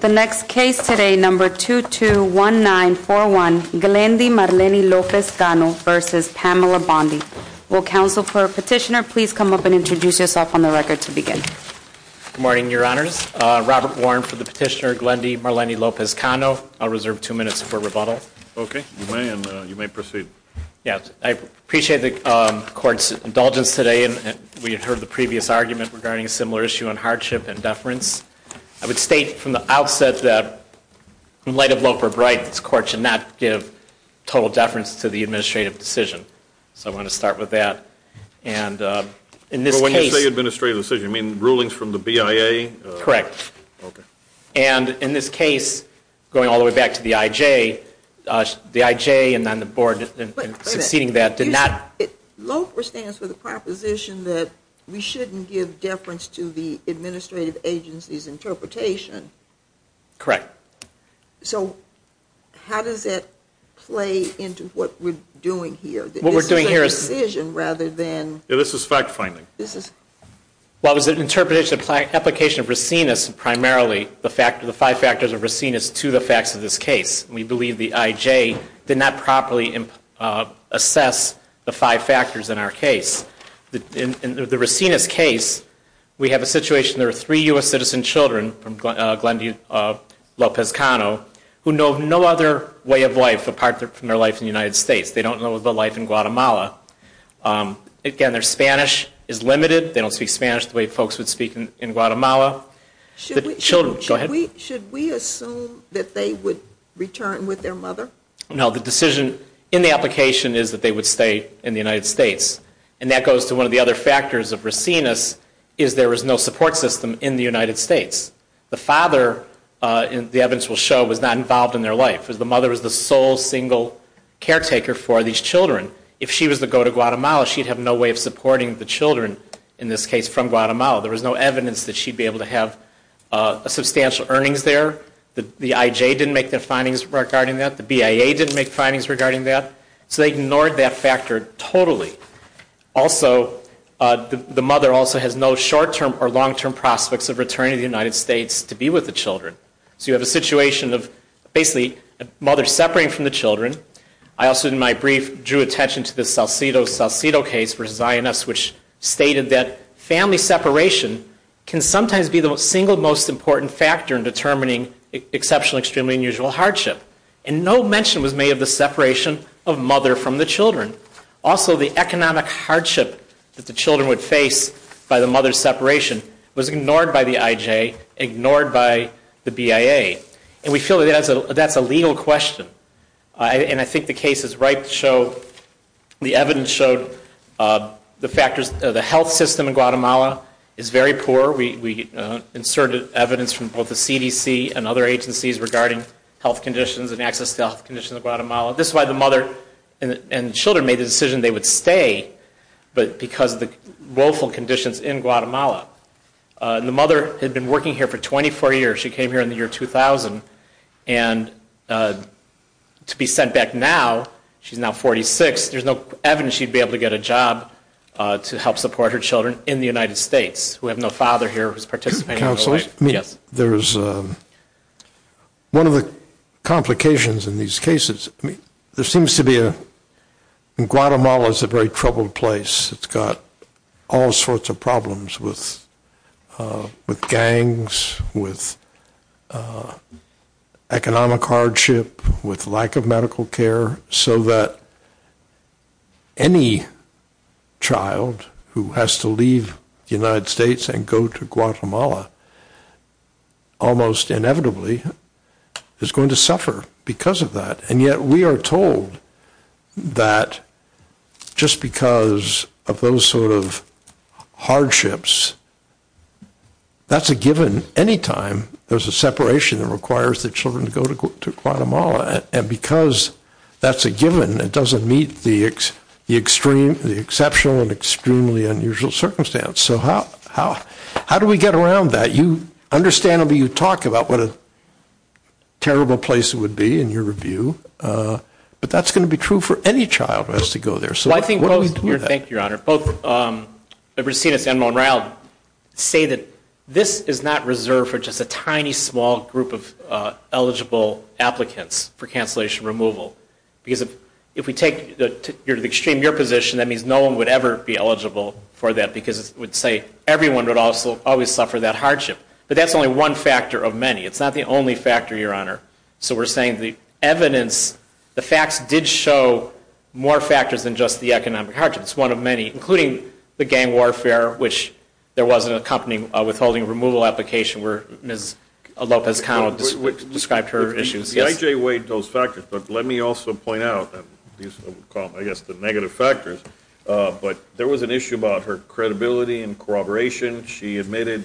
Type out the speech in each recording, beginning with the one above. The next case today, number 221941, Glendy Marleny Lopez Cano v. Pamela Bondi. Will counsel for petitioner please come up and introduce yourself on the record to begin. Good morning, your honors. Robert Warren for the petitioner, Glendy Marleny Lopez Cano. I'll reserve two minutes for rebuttal. Okay, you may, and you may proceed. Yes, I appreciate the court's indulgence today, and we had heard the previous argument regarding a similar issue on hardship and deference. I would state from the outset that, in light of Loper's right, this court should not give total deference to the administrative decision. So I want to start with that. And in this case- When you say administrative decision, you mean rulings from the BIA? Correct. Okay. And in this case, going all the way back to the IJ, the IJ and then the board in succeeding that did not- Loper stands for the proposition that we shouldn't give deference to the administrative agency's interpretation. Correct. So how does that play into what we're doing here? What we're doing here is- This is a decision rather than- This is fact finding. This is- Well, it was an interpretation, application of racinus primarily, the five factors of racinus to the facts of this case. We believe the IJ did not properly assess the five factors in our case. In the racinus case, we have a situation, there are three U.S. citizen children from Glendale-Lopez Cano who know no other way of life apart from their life in the United States. They don't know the life in Guatemala. Again, their Spanish is limited. They don't speak Spanish the way folks would speak in Guatemala. Should we- Children, go ahead. Should we assume that they would return with their mother? No, the decision in the application is that they would stay in the United States. And that goes to one of the other factors of racinus, is there was no support system in the United States. The father, the evidence will show, was not involved in their life. The mother was the sole, single caretaker for these children. If she was to go to Guatemala, she'd have no way of supporting the children, in this case, from Guatemala. There was no evidence that she'd be able to have substantial earnings there. The IJ didn't make their findings regarding that. The BIA didn't make findings regarding that. So they ignored that factor totally. Also, the mother also has no short-term or long-term prospects of returning to the United States to be with the children. So you have a situation of basically a mother separating from the children. I also, in my brief, drew attention to the Salcido-Salcido case for Zionists, which stated that family separation can sometimes be the single most important factor in determining exceptional, extremely unusual hardship. And no mention was made of the separation of mother from the children. Also, the economic hardship that the children would face by the mother's separation was ignored by the IJ, ignored by the BIA. And we feel that that's a legal question. And I think the case is right to show, the evidence showed the factors, the health system in Guatemala is very poor. We inserted evidence from both the CDC and other agencies regarding health conditions and access to health conditions in Guatemala. This is why the mother and children made the decision they would stay, but because of the woeful conditions in Guatemala. And the mother had been working here for 24 years. She came here in the year 2000. And to be sent back now, she's now 46. There's no evidence she'd be able to get a job to help support her children in the United States. We have no father here who's participating. Counselor, there is one of the complications in these cases. There seems to be a, Guatemala is a very troubled place. It's got all sorts of problems with gangs, with economic hardship, with lack of medical care, so that any child who has to leave the United States and go to Guatemala, almost inevitably, is going to suffer because of that. And yet, we are told that just because of those sort of hardships, that's a given. Any time, there's a separation that requires the children to go to Guatemala. And because that's a given, it doesn't meet the exceptional and extremely unusual circumstance. So how do we get around that? Understandably, you talk about what a terrible place it would be in your review. But that's going to be true for any child who has to go there. So why don't we do that? Thank you, Your Honor. Both Brasinas and Monreal say that this is not reserved for just a tiny, small group of eligible applicants for cancellation removal. Because if we take to the extreme your position, that means no one would ever be eligible for that. Because it would say everyone would also always suffer that hardship. But that's only one factor of many. It's not the only factor, Your Honor. So we're saying the evidence, the facts did show more factors than just the economic hardship. It's one of many, including the gang warfare, which there was an accompanying withholding removal application, where Ms. Lopez-Connell described her issues. Yes? I.J. weighed those factors. But let me also point out, I guess, the negative factors. But there was an issue about her credibility and corroboration. She admitted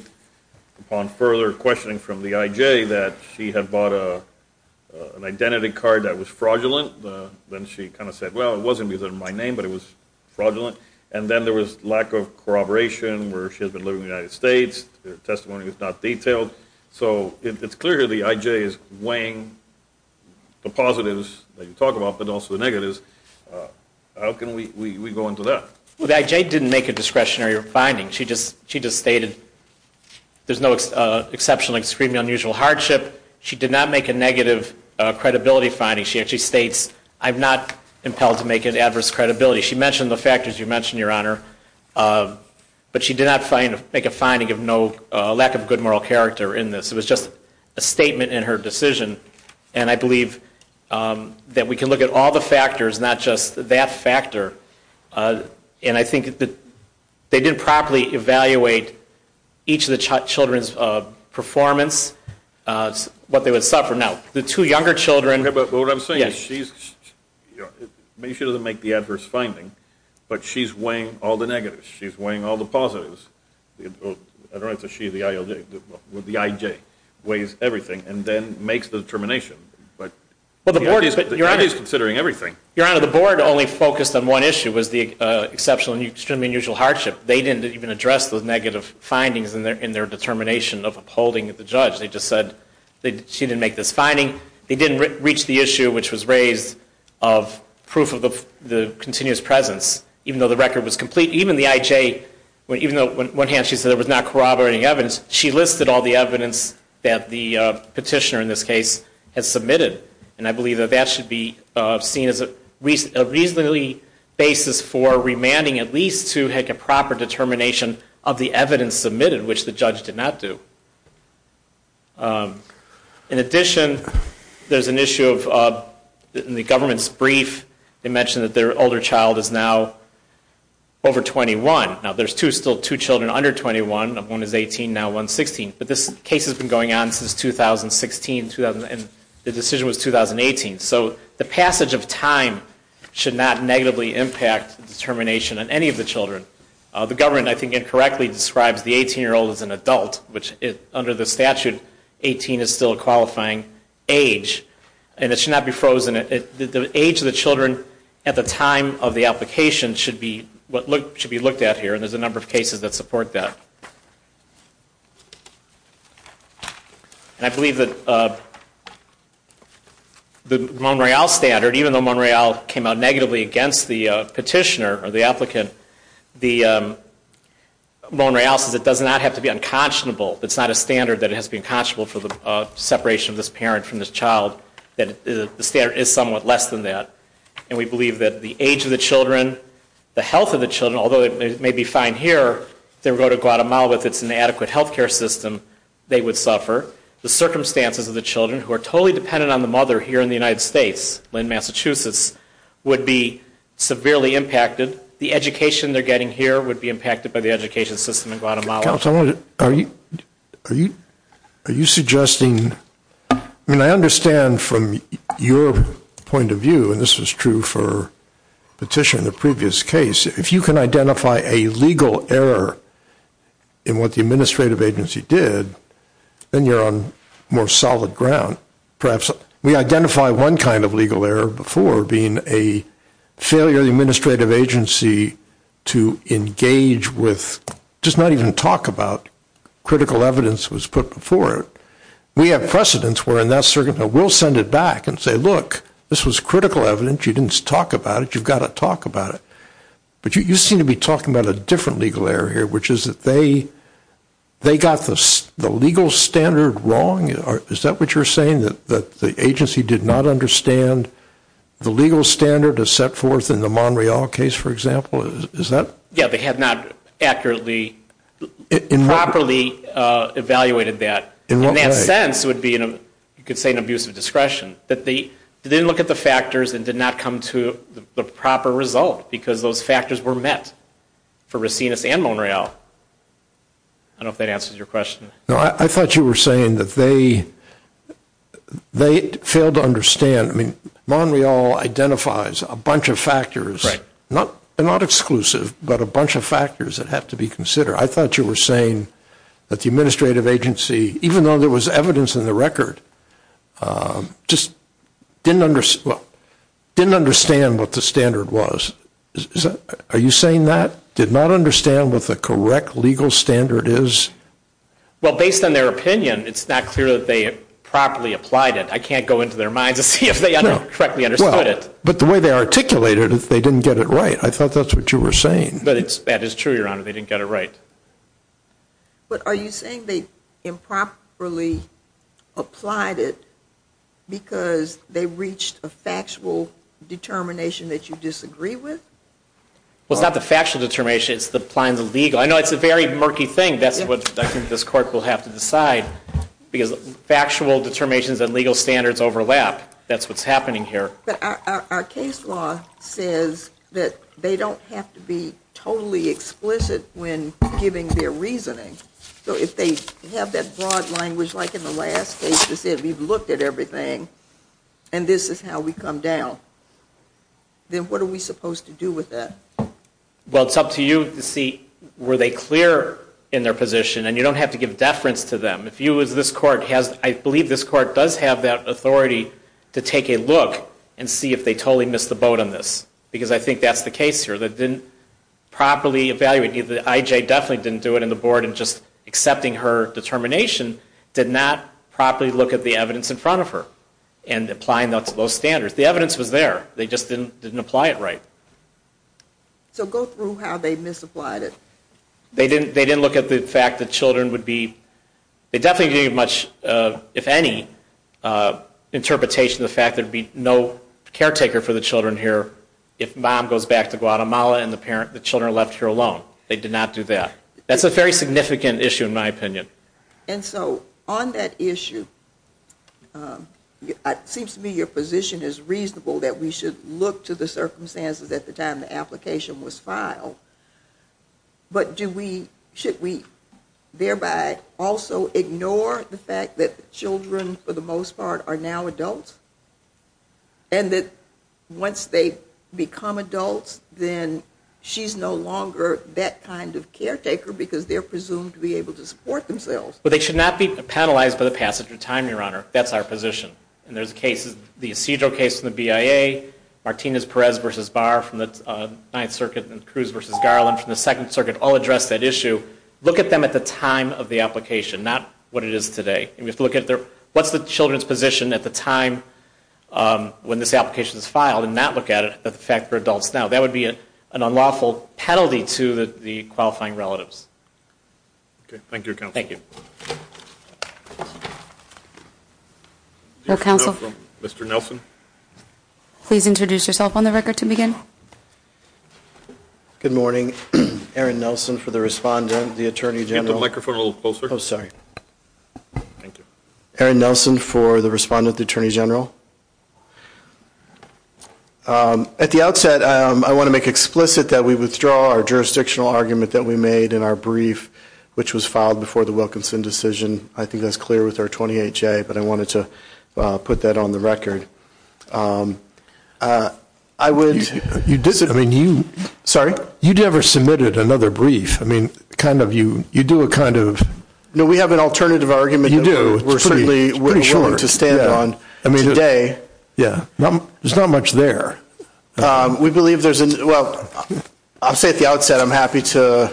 upon further questioning from the I.J. that she had bought an identity card that was fraudulent. Then she kind of said, well, it wasn't because of my name, but it was fraudulent. And then there was lack of corroboration, where she has been living in the United States. Her testimony was not detailed. So it's clear here the I.J. is weighing the positives that you talk about, but also the negatives. How can we go into that? Well, the I.J. didn't make a discretionary finding. She just stated there's no exceptionally extremely unusual hardship. She did not make a negative credibility finding. She actually states, I'm not impelled to make an adverse credibility. She mentioned the factors you mentioned, Your Honor. But she did not make a finding of no lack of good moral character in this. It was just a statement in her decision. And I believe that we can look at all the factors, not just that factor. And I think that they didn't properly evaluate each of the children's performance, what they would suffer. Now, the two younger children. Yeah, but what I'm saying is she's, maybe she doesn't make the adverse finding, but she's weighing all the negatives. She's weighing all the positives. I don't have to say she, the I.J. weighs everything. And then makes the determination. But the I.J. is considering everything. Your Honor, the board only focused on one issue, was the exceptional and extremely unusual hardship. They didn't even address those negative findings in their determination of upholding the judge. They just said she didn't make this finding. They didn't reach the issue which was raised of proof of the continuous presence. Even though the record was complete, even the I.J., even though on one hand she said there was not corroborating evidence, she listed all the evidence that the petitioner in this case has submitted. And I believe that that should be seen as a reasonably basis for remanding at least to make a proper determination of the evidence submitted, which the judge did not do. In addition, there's an issue of, in the government's brief, they mentioned that their older child is now over 21. Now, there's two, still two children under 21. One is 18, now 116. But this case has been going on since 2016, and the decision was 2018. So the passage of time should not negatively impact determination on any of the children. The government, I think, incorrectly describes the 18-year-old as an adult, which under the statute, 18 is still a qualifying age. And it should not be frozen. The age of the children at the time of the application should be looked at here. And there's a number of cases that support that. And I believe that the Mon-Royal standard, even though Mon-Royal came out negatively against the petitioner or the applicant, the Mon-Royal says it does not have to be unconscionable. It's not a standard that it has to be unconscionable for the separation of this parent from this child. That the standard is somewhat less than that. And we believe that the age of the children, the health of the children, although it may be fine here, if they were to go to Guatemala, if it's an adequate health care system, they would suffer. The circumstances of the children, who are totally dependent on the mother here in the United States, in Massachusetts, would be severely impacted. The education they're getting here would be impacted by the education system in Guatemala. Are you suggesting, I mean, I understand from your point of view, and this was true for the petitioner in the previous case, if you can identify a legal error in what the administrative agency did, then you're on more solid ground. Perhaps we identify one kind of legal error before, being a failure of the administrative agency to engage with, just not even talk about, critical evidence was put before it. We have precedents where in that circumstance, we'll send it back and say, look, this was critical evidence, you didn't talk about it, but you've got to talk about it. But you seem to be talking about a different legal error here, which is that they got the legal standard wrong. Is that what you're saying, that the agency did not understand the legal standard as set forth in the Monreal case, for example? Yeah, they had not accurately, properly evaluated that. In that sense, it would be, you could say, an abuse of discretion. That they didn't look at the factors and did not come to the proper result, because those factors were met for Racinus and Monreal. I don't know if that answers your question. No, I thought you were saying that they failed to understand. I mean, Monreal identifies a bunch of factors, not exclusive, but a bunch of factors that have to be considered. I thought you were saying that the administrative agency, even though there was evidence in the record, just didn't understand what the standard was. Are you saying that, did not understand what the correct legal standard is? Well, based on their opinion, it's not clear that they properly applied it. I can't go into their minds and see if they correctly understood it. But the way they articulated it, they didn't get it right. I thought that's what you were saying. But that is true, Your Honor, they didn't get it right. But are you saying they improperly applied it because they reached a factual determination that you disagree with? Well, it's not the factual determination, it's the applying the legal. I know it's a very murky thing. That's what I think this court will have to decide, because factual determinations and legal standards overlap. That's what's happening here. But our case law says that they don't have to be totally explicit when giving their reasoning. So if they have that broad language, like in the last case, they said we've looked at everything, and this is how we come down. Then what are we supposed to do with that? Well, it's up to you to see, were they clear in their position? And you don't have to give deference to them. If you as this court has, I believe this court does have that authority to take a look and see if they totally missed the boat on this. Because I think that's the case here. The person that didn't properly evaluate, the IJ definitely didn't do it in the board in just accepting her determination, did not properly look at the evidence in front of her and applying those standards. The evidence was there, they just didn't apply it right. So go through how they misapplied it. They didn't look at the fact that children would be, they definitely didn't give much, if any, interpretation of the fact there would be no caretaker for the children here if mom goes back to Guatemala and the children are left here alone. They did not do that. That's a very significant issue in my opinion. And so on that issue, it seems to me your position is reasonable that we should look to the circumstances at the time the application was filed. But do we, should we thereby also ignore the fact that children, for the most part, are now adults? And that once they become adults, then she's no longer that kind of caretaker because they're presumed to be able to support themselves. But they should not be penalized by the passage of time, your honor. That's our position. And there's cases, the procedural case in the BIA, Martinez-Perez v. Barr from the 9th Circuit and Cruz v. Garland from the 2nd Circuit all address that issue. Look at them at the time of the application, not what it is today. And we have to look at their, what's the children's position at the time when this application is filed and not look at it, at the fact they're adults now. That would be an unlawful penalty to the qualifying relatives. Okay. Thank you, counsel. Thank you. No counsel. Mr. Nelson. Please introduce yourself on the record to begin. Good morning. Erin Nelson for the respondent, the Attorney General. Get the microphone a little closer. Oh, sorry. Thank you. Erin Nelson for the respondent, the Attorney General. At the outset, I want to make explicit that we withdraw our jurisdictional argument that we made in our brief, which was filed before the Wilkinson decision. I think that's clear with our 28-J, but I wanted to put that on the record. I would, I mean, you, sorry, you never submitted another brief. I mean, kind of you, you do a kind of. No, we have an alternative argument. You do. We're certainly willing to stand on today. Yeah. There's not much there. We believe there's, well, I'll say at the outset, I'm happy to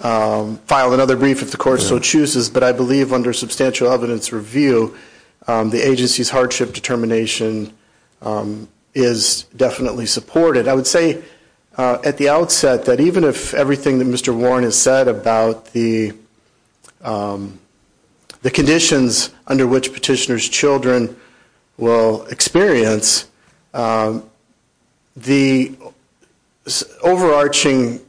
file another brief if the court so chooses, but I believe under substantial evidence review, the agency's hardship determination is definitely supported. I would say at the outset that even if everything that Mr. Warren has said about the conditions under which petitioner's children will experience, the overarching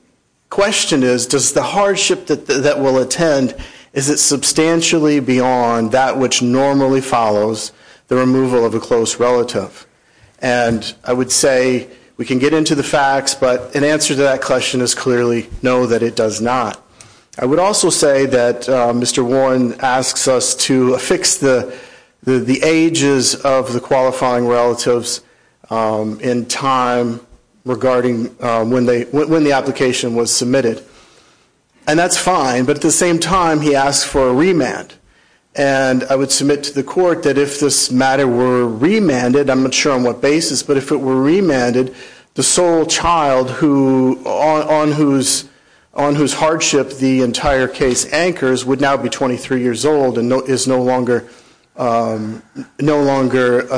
question is, does the hardship that will attend, is it substantially beyond that which normally follows the removal of a close relative? And I would say we can get into the facts, but an answer to that question is clearly no, that it does not. I would also say that Mr. Warren asks us to fix the ages of the qualifying relatives in time regarding when the application was submitted. And that's fine, but at the same time, he asks for a remand. And I would submit to the court that if this matter were remanded, I'm not sure on what basis, but if it were remanded, the sole child on whose hardship the entire case anchors would now be 23 years old and is no longer a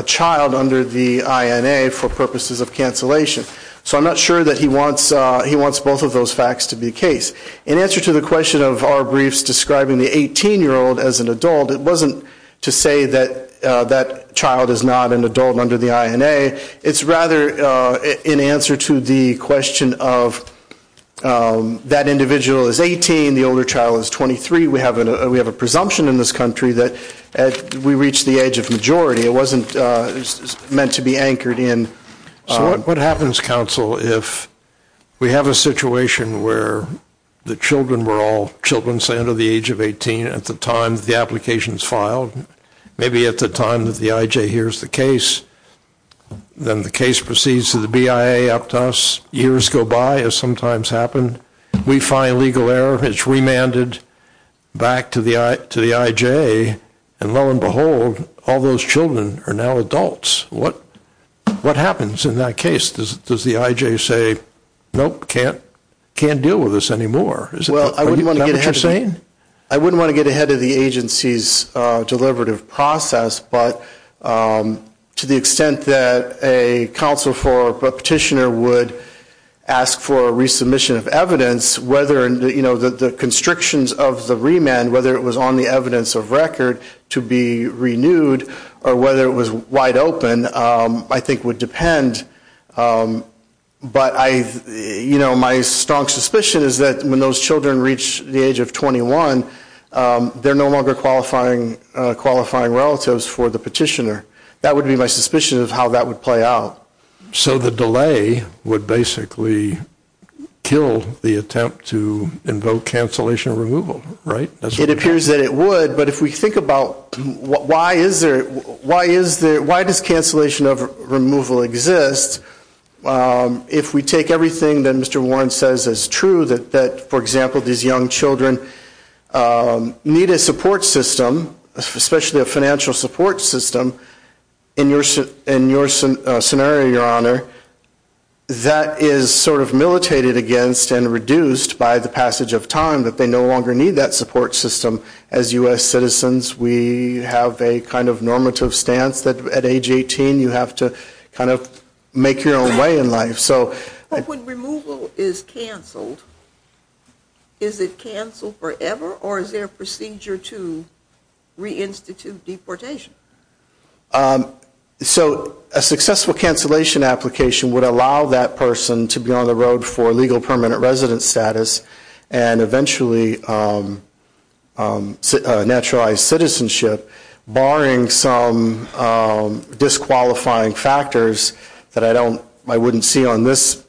child under the INA for purposes of cancellation. So I'm not sure that he wants both of those facts to be the case. In answer to the question of our briefs describing the 18-year-old as an adult, it wasn't to say that that child is not an adult under the INA. It's rather in answer to the question of that individual is 18, the older child is 23. We have a presumption in this country that we reach the age of majority. It wasn't meant to be anchored in. So what happens, counsel, if we have a situation where the children were all children, let's say, under the age of 18 at the time the application is filed, maybe at the time that the IJ hears the case, then the case proceeds to the BIA up to us, years go by, as sometimes happened. We find legal error, it's remanded back to the IJ, and lo and behold, all those children are now adults. What happens in that case? Does the IJ say, nope, can't deal with this anymore? Is that what you're saying? I wouldn't want to get ahead of the agency's deliberative process, but to the extent that a counsel for a petitioner would ask for a resubmission of evidence, whether the constrictions of the remand, whether it was on the evidence of record to be renewed, or whether it was wide open, I think would depend. But my strong suspicion is that when those children reach the age of 21, they're no longer qualifying relatives for the petitioner. That would be my suspicion of how that would play out. So the delay would basically kill the attempt to invoke cancellation removal, right? It appears that it would, but if we think about why is there, why does cancellation of removal exist? If we take everything that Mr. Warren says is true, that for example, these young children need a support system, especially a financial support system. In your scenario, your honor, that is sort of militated against and reduced by the passage of time, that they no longer need that support system. As US citizens, we have a kind of normative stance that at age 18, you have to kind of make your own way in life. So- But when removal is canceled, is it canceled forever or is there a procedure to reinstitute deportation? So a successful cancellation application would allow that person to be on the road for legal permanent residence status and eventually naturalized citizenship, barring some disqualifying factors that I wouldn't see on this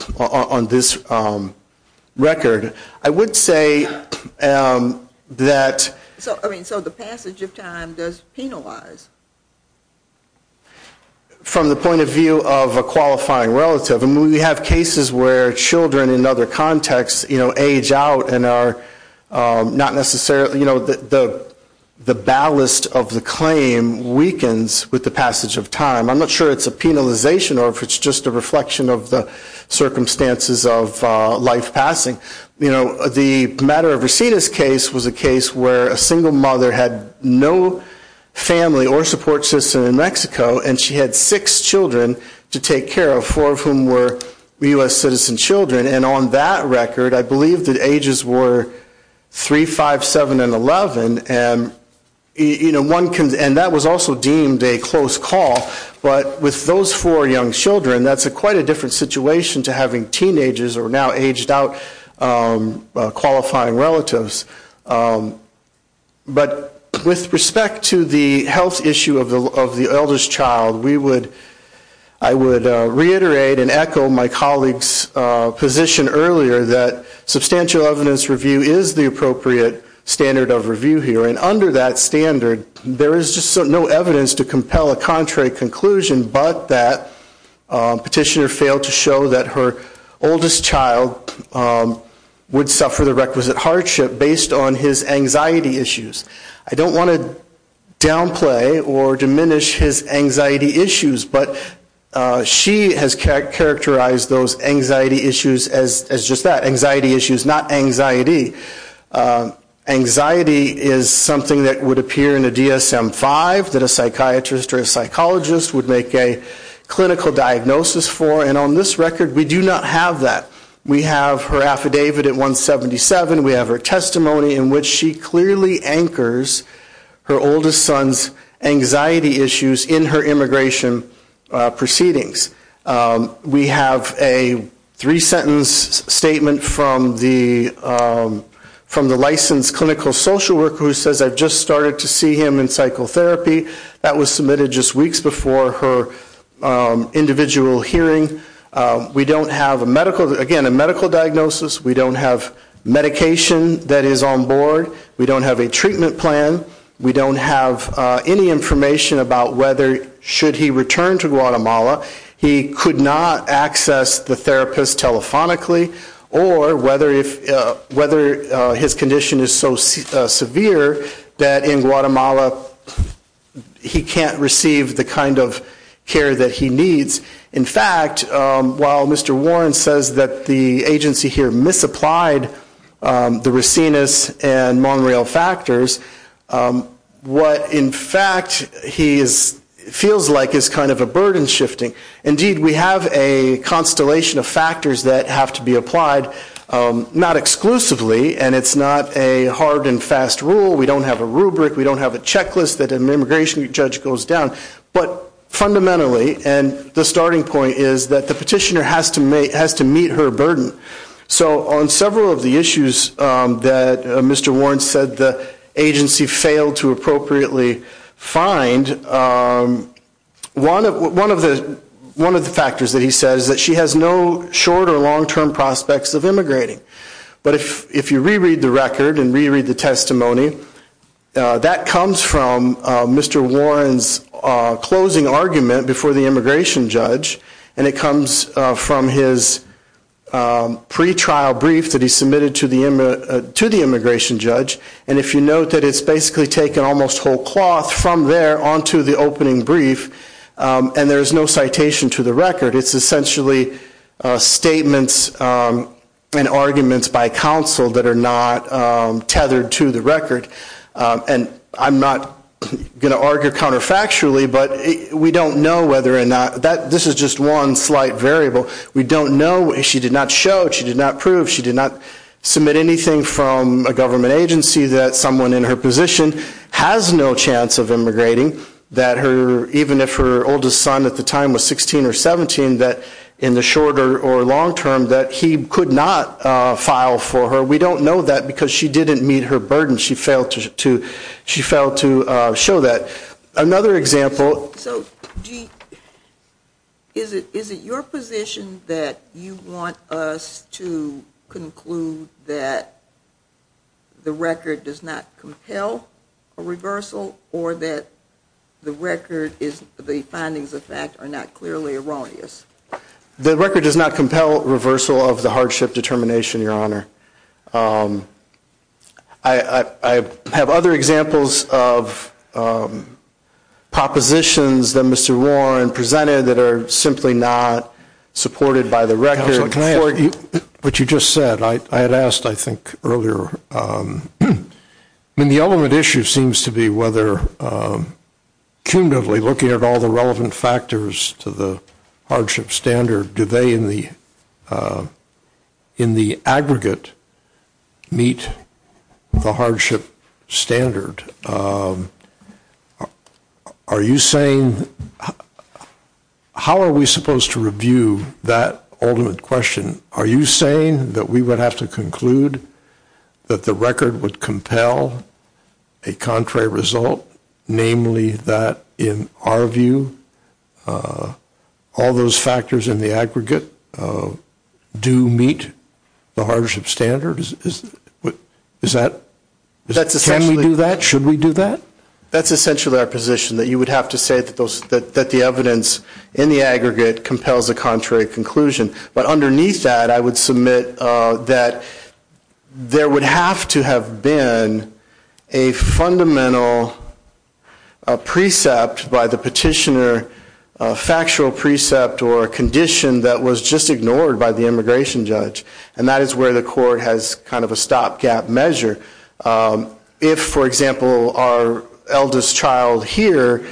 record. I would say that- So the passage of time does penalize? From the point of view of a qualifying relative, I mean we have cases where children in other contexts age out and are not necessarily, you know, the ballast of the claim weakens with the passage of time. I'm not sure it's a penalization or if it's just a reflection of the circumstances of life passing. You know, the matter of Reseda's case was a case where a single mother had no family or support system in Mexico and she had six children to take care of, four of whom were US citizen children. And on that record, I believe that ages were 3, 5, 7, and 11. And, you know, one can- And that was also deemed a close call. But with those four young children, that's quite a different situation to having teenagers or now aged out qualifying relatives. But with respect to the health issue of the eldest child, we would- I would reiterate and echo my colleague's position earlier that substantial evidence review is the appropriate standard of review here. And under that standard, there is just no evidence to compel a contrary conclusion but that petitioner failed to show that her oldest child would suffer the requisite hardship based on his anxiety issues. I don't want to downplay or diminish his anxiety issues, but she has characterized those anxiety issues as just that, anxiety issues, not anxiety. Anxiety is something that would appear in a DSM-5 that a psychiatrist or a psychologist would make a clinical diagnosis for and on this record, we do not have that. We have her affidavit at 177. We have her testimony in which she clearly anchors her oldest son's anxiety issues in her immigration proceedings. We have a three-sentence statement from the licensed clinical social worker who says, I've just started to see him in psychotherapy. That was submitted just weeks before her individual hearing. We don't have a medical- Again, a medical diagnosis. We don't have medication that is on board. We don't have a treatment plan. We don't have any information about whether, should he return to Guatemala, he could not access the therapist telephonically or whether his condition is so severe that in Guatemala he can't receive the kind of care that he needs. In fact, while Mr. Warren says that the agency here misapplied the Racinus and Monreal factors, what, in fact, he feels like is kind of a burden shifting. Indeed, we have a constellation of factors that have to be applied, not exclusively, and it's not a hard and fast rule. We don't have a rubric. We don't have a checklist that an immigration judge goes down. But fundamentally, and the starting point is that the petitioner has to meet her burden. So on several of the issues that Mr. Warren said the agency failed to appropriately find, one of the factors that he said is that she has no short or long-term prospects of immigrating. But if you reread the record and reread the testimony, that comes from Mr. Warren's closing argument before the immigration judge, and it comes from his pretrial brief that he submitted to the immigration judge. And if you note that it's basically taken almost whole cloth from there onto the opening brief, and there's no citation to the record. It's essentially statements and arguments by counsel that are not tethered to the record. And I'm not going to argue counterfactually, but we don't know whether or not that this is just one slight variable. We don't know if she did not show, she did not prove, she did not submit anything from a government agency that someone in her position has no chance of immigrating, that even if her oldest son at the time was 16 or 17, that in the short or long-term, that he could not file for her. We don't know that because she didn't meet her burden. She failed to show that. Another example. So is it your position that you want us to conclude that the record does not compel a reversal, or that the findings of fact are not clearly erroneous? The record does not compel reversal of the hardship determination, Your Honor. I have other examples of propositions that Mr. Warren presented that are simply not supported by the record. Counsel, can I ask you what you just said? I had asked, I think, earlier. I mean, the element issue seems to be whether, cumulatively looking at all the relevant factors to the hardship standard, do they in the aggregate meet the hardship standard? Are you saying, how are we supposed to review that ultimate question? Are you saying that we would have to conclude that the record would compel a contrary result, namely that, in our view, all those factors in the aggregate do meet the hardship standard? Is that? Can we do that? Should we do that? That's essentially our position, that you would have to say that the evidence in the aggregate compels a contrary conclusion. But underneath that, I would submit that there would have to have been a fundamental precept by the petitioner, a factual precept or a condition that was just ignored by the immigration judge. And that is where the court has kind of a stopgap measure. If, for example, our eldest child here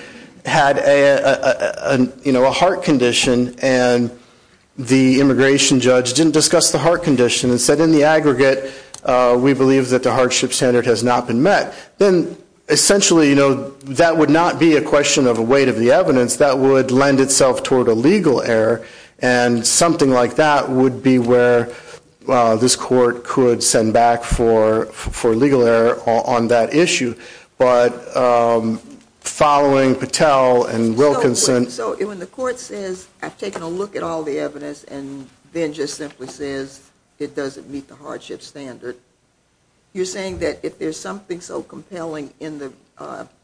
had a heart condition and the immigration judge didn't discuss the heart condition and said, in the aggregate, we believe that the hardship standard has not been met, then essentially, that would not be a question of a weight of the evidence. That would lend itself toward a legal error. And something like that would be where this court could send back for legal error on that issue. But following Patel and Wilkinson So when the court says, I've taken a look at all the evidence and then just simply says it doesn't meet the hardship standard, you're saying that if there's something so compelling in the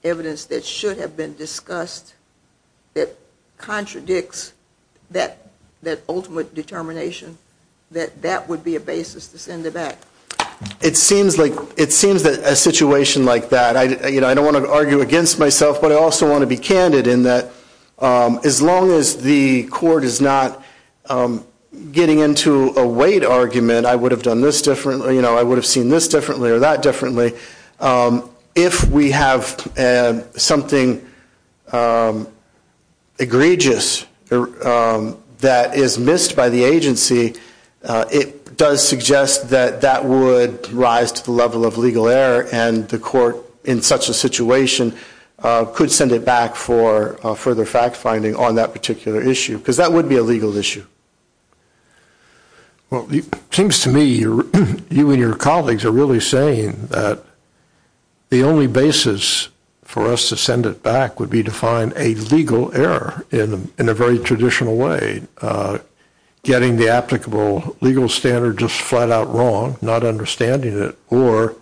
evidence that should have been discussed that contradicts that ultimate determination, that that would be a basis to send it back? It seems like a situation like that. I don't want to argue against myself, but I also want to be candid in that as long as the court is not getting into a weight argument, I would have done this differently, I would have seen this differently or that differently. If we have something egregious that is missed by the agency, it does suggest that that would rise to the level of legal error and the court in such a situation could send it back for further fact finding on that particular issue. Because that would be a legal issue. Well, it seems to me you and your colleagues are really saying that the only basis for us to send it back would be to find a legal error in a very traditional way. Getting the applicable legal standard just flat out wrong, not understanding it, or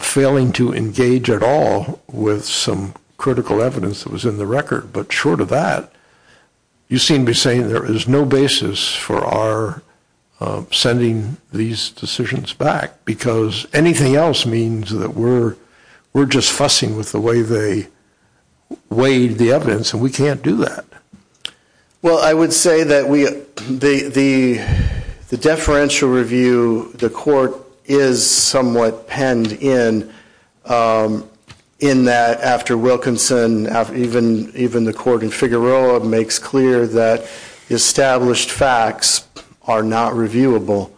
failing to engage at all with some critical evidence that was in the record. But short of that, you seem to be saying there is no basis for our sending these decisions back. Because anything else means that we're just fussing with the way they weighed the evidence and we can't do that. Well, I would say that the deferential review, the court is somewhat penned in, in that after Wilkinson, even the court in Figueroa makes clear that established facts are not reviewable.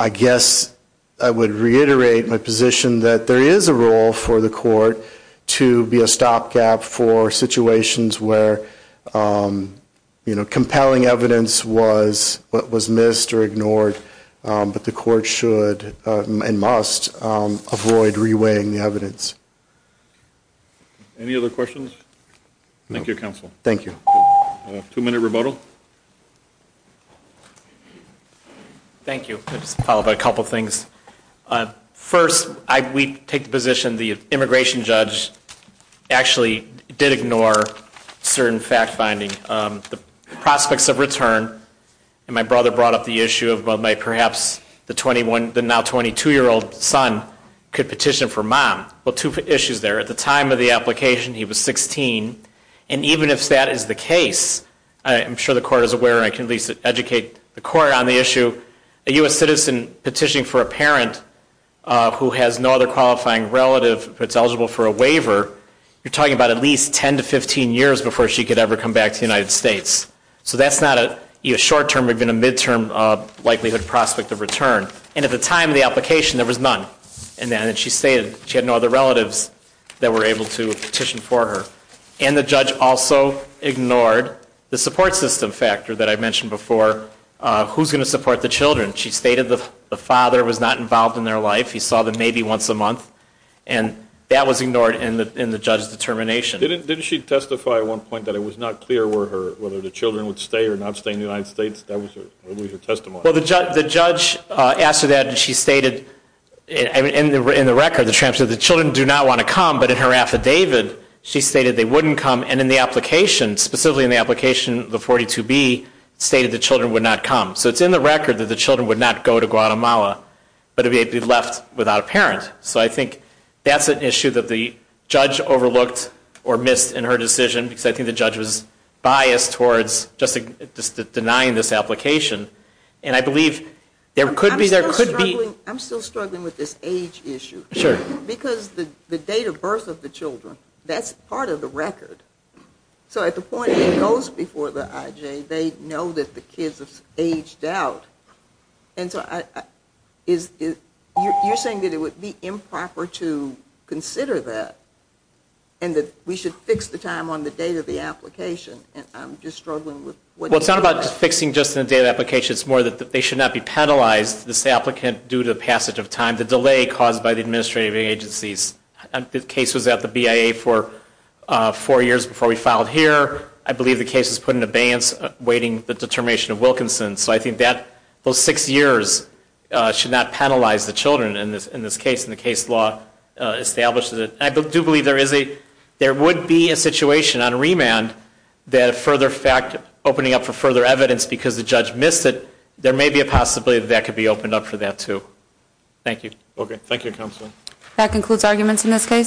I guess I would reiterate my position that there is a role for the court to be a stopgap for situations where compelling evidence was missed or ignored, but the court should and must avoid re-weighing the evidence. Any other questions? Thank you, counsel. Thank you. Two-minute remodel. Thank you. I just want to follow up on a couple of things. First, we take the position the immigration judge actually did ignore certain fact-finding. The prospects of return, and my brother brought up the issue of perhaps the now 22-year-old son could petition for mom. Well, two issues there. At the time of the application, he was 16, and even if that is the case, I'm sure the court is aware and I can at least educate the court on the issue, a U.S. citizen petitioning for a parent who has no other qualifying relative that's eligible for a waiver, you're talking about at least 10 to 15 years before she could ever come back to the United States. So that's not a short-term or even a mid-term likelihood prospect of return. And at the time of the application, there was none. And she stated she had no other relatives that were able to petition for her. And the judge also ignored the support system factor that I mentioned before, who's going to support the children. She stated the father was not involved in their life. He saw them maybe once a month. And that was ignored in the judge's determination. Didn't she testify at one point that it was not clear whether the children would stay or not stay in the United States? That was her testimony. Well, the judge asked her that, and she stated in the record, the transcript, the children do not want to come, but in her affidavit she stated they wouldn't come. And in the application, specifically in the application, the 42B, stated the children would not come. So it's in the record that the children would not go to Guatemala, but they'd be left without a parent. So I think that's an issue that the judge overlooked or missed in her decision, because I think the judge was biased towards just denying this application. And I believe there could be ‑‑ I'm still struggling with this age issue. Sure. Because the date of birth of the children, that's part of the record. So at the point it goes before the IJ, they know that the kids have aged out. And so you're saying that it would be improper to consider that and that we should fix the time on the date of the application. And I'm just struggling with what ‑‑ Well, it's not about fixing just the date of the application. It's more that they should not be penalized, this applicant, due to the passage of time, the delay caused by the administrative agencies. The case was at the BIA for four years before we filed here. I believe the case was put in abeyance awaiting the determination of Wilkinson. So I think that those six years should not penalize the children in this case, and the case law establishes it. I do believe there is a ‑‑ there would be a situation on remand that a further fact opening up for further evidence because the judge missed it, there may be a possibility that that could be opened up for that, too. Thank you. Okay. Thank you, Counselor. That concludes arguments in this case.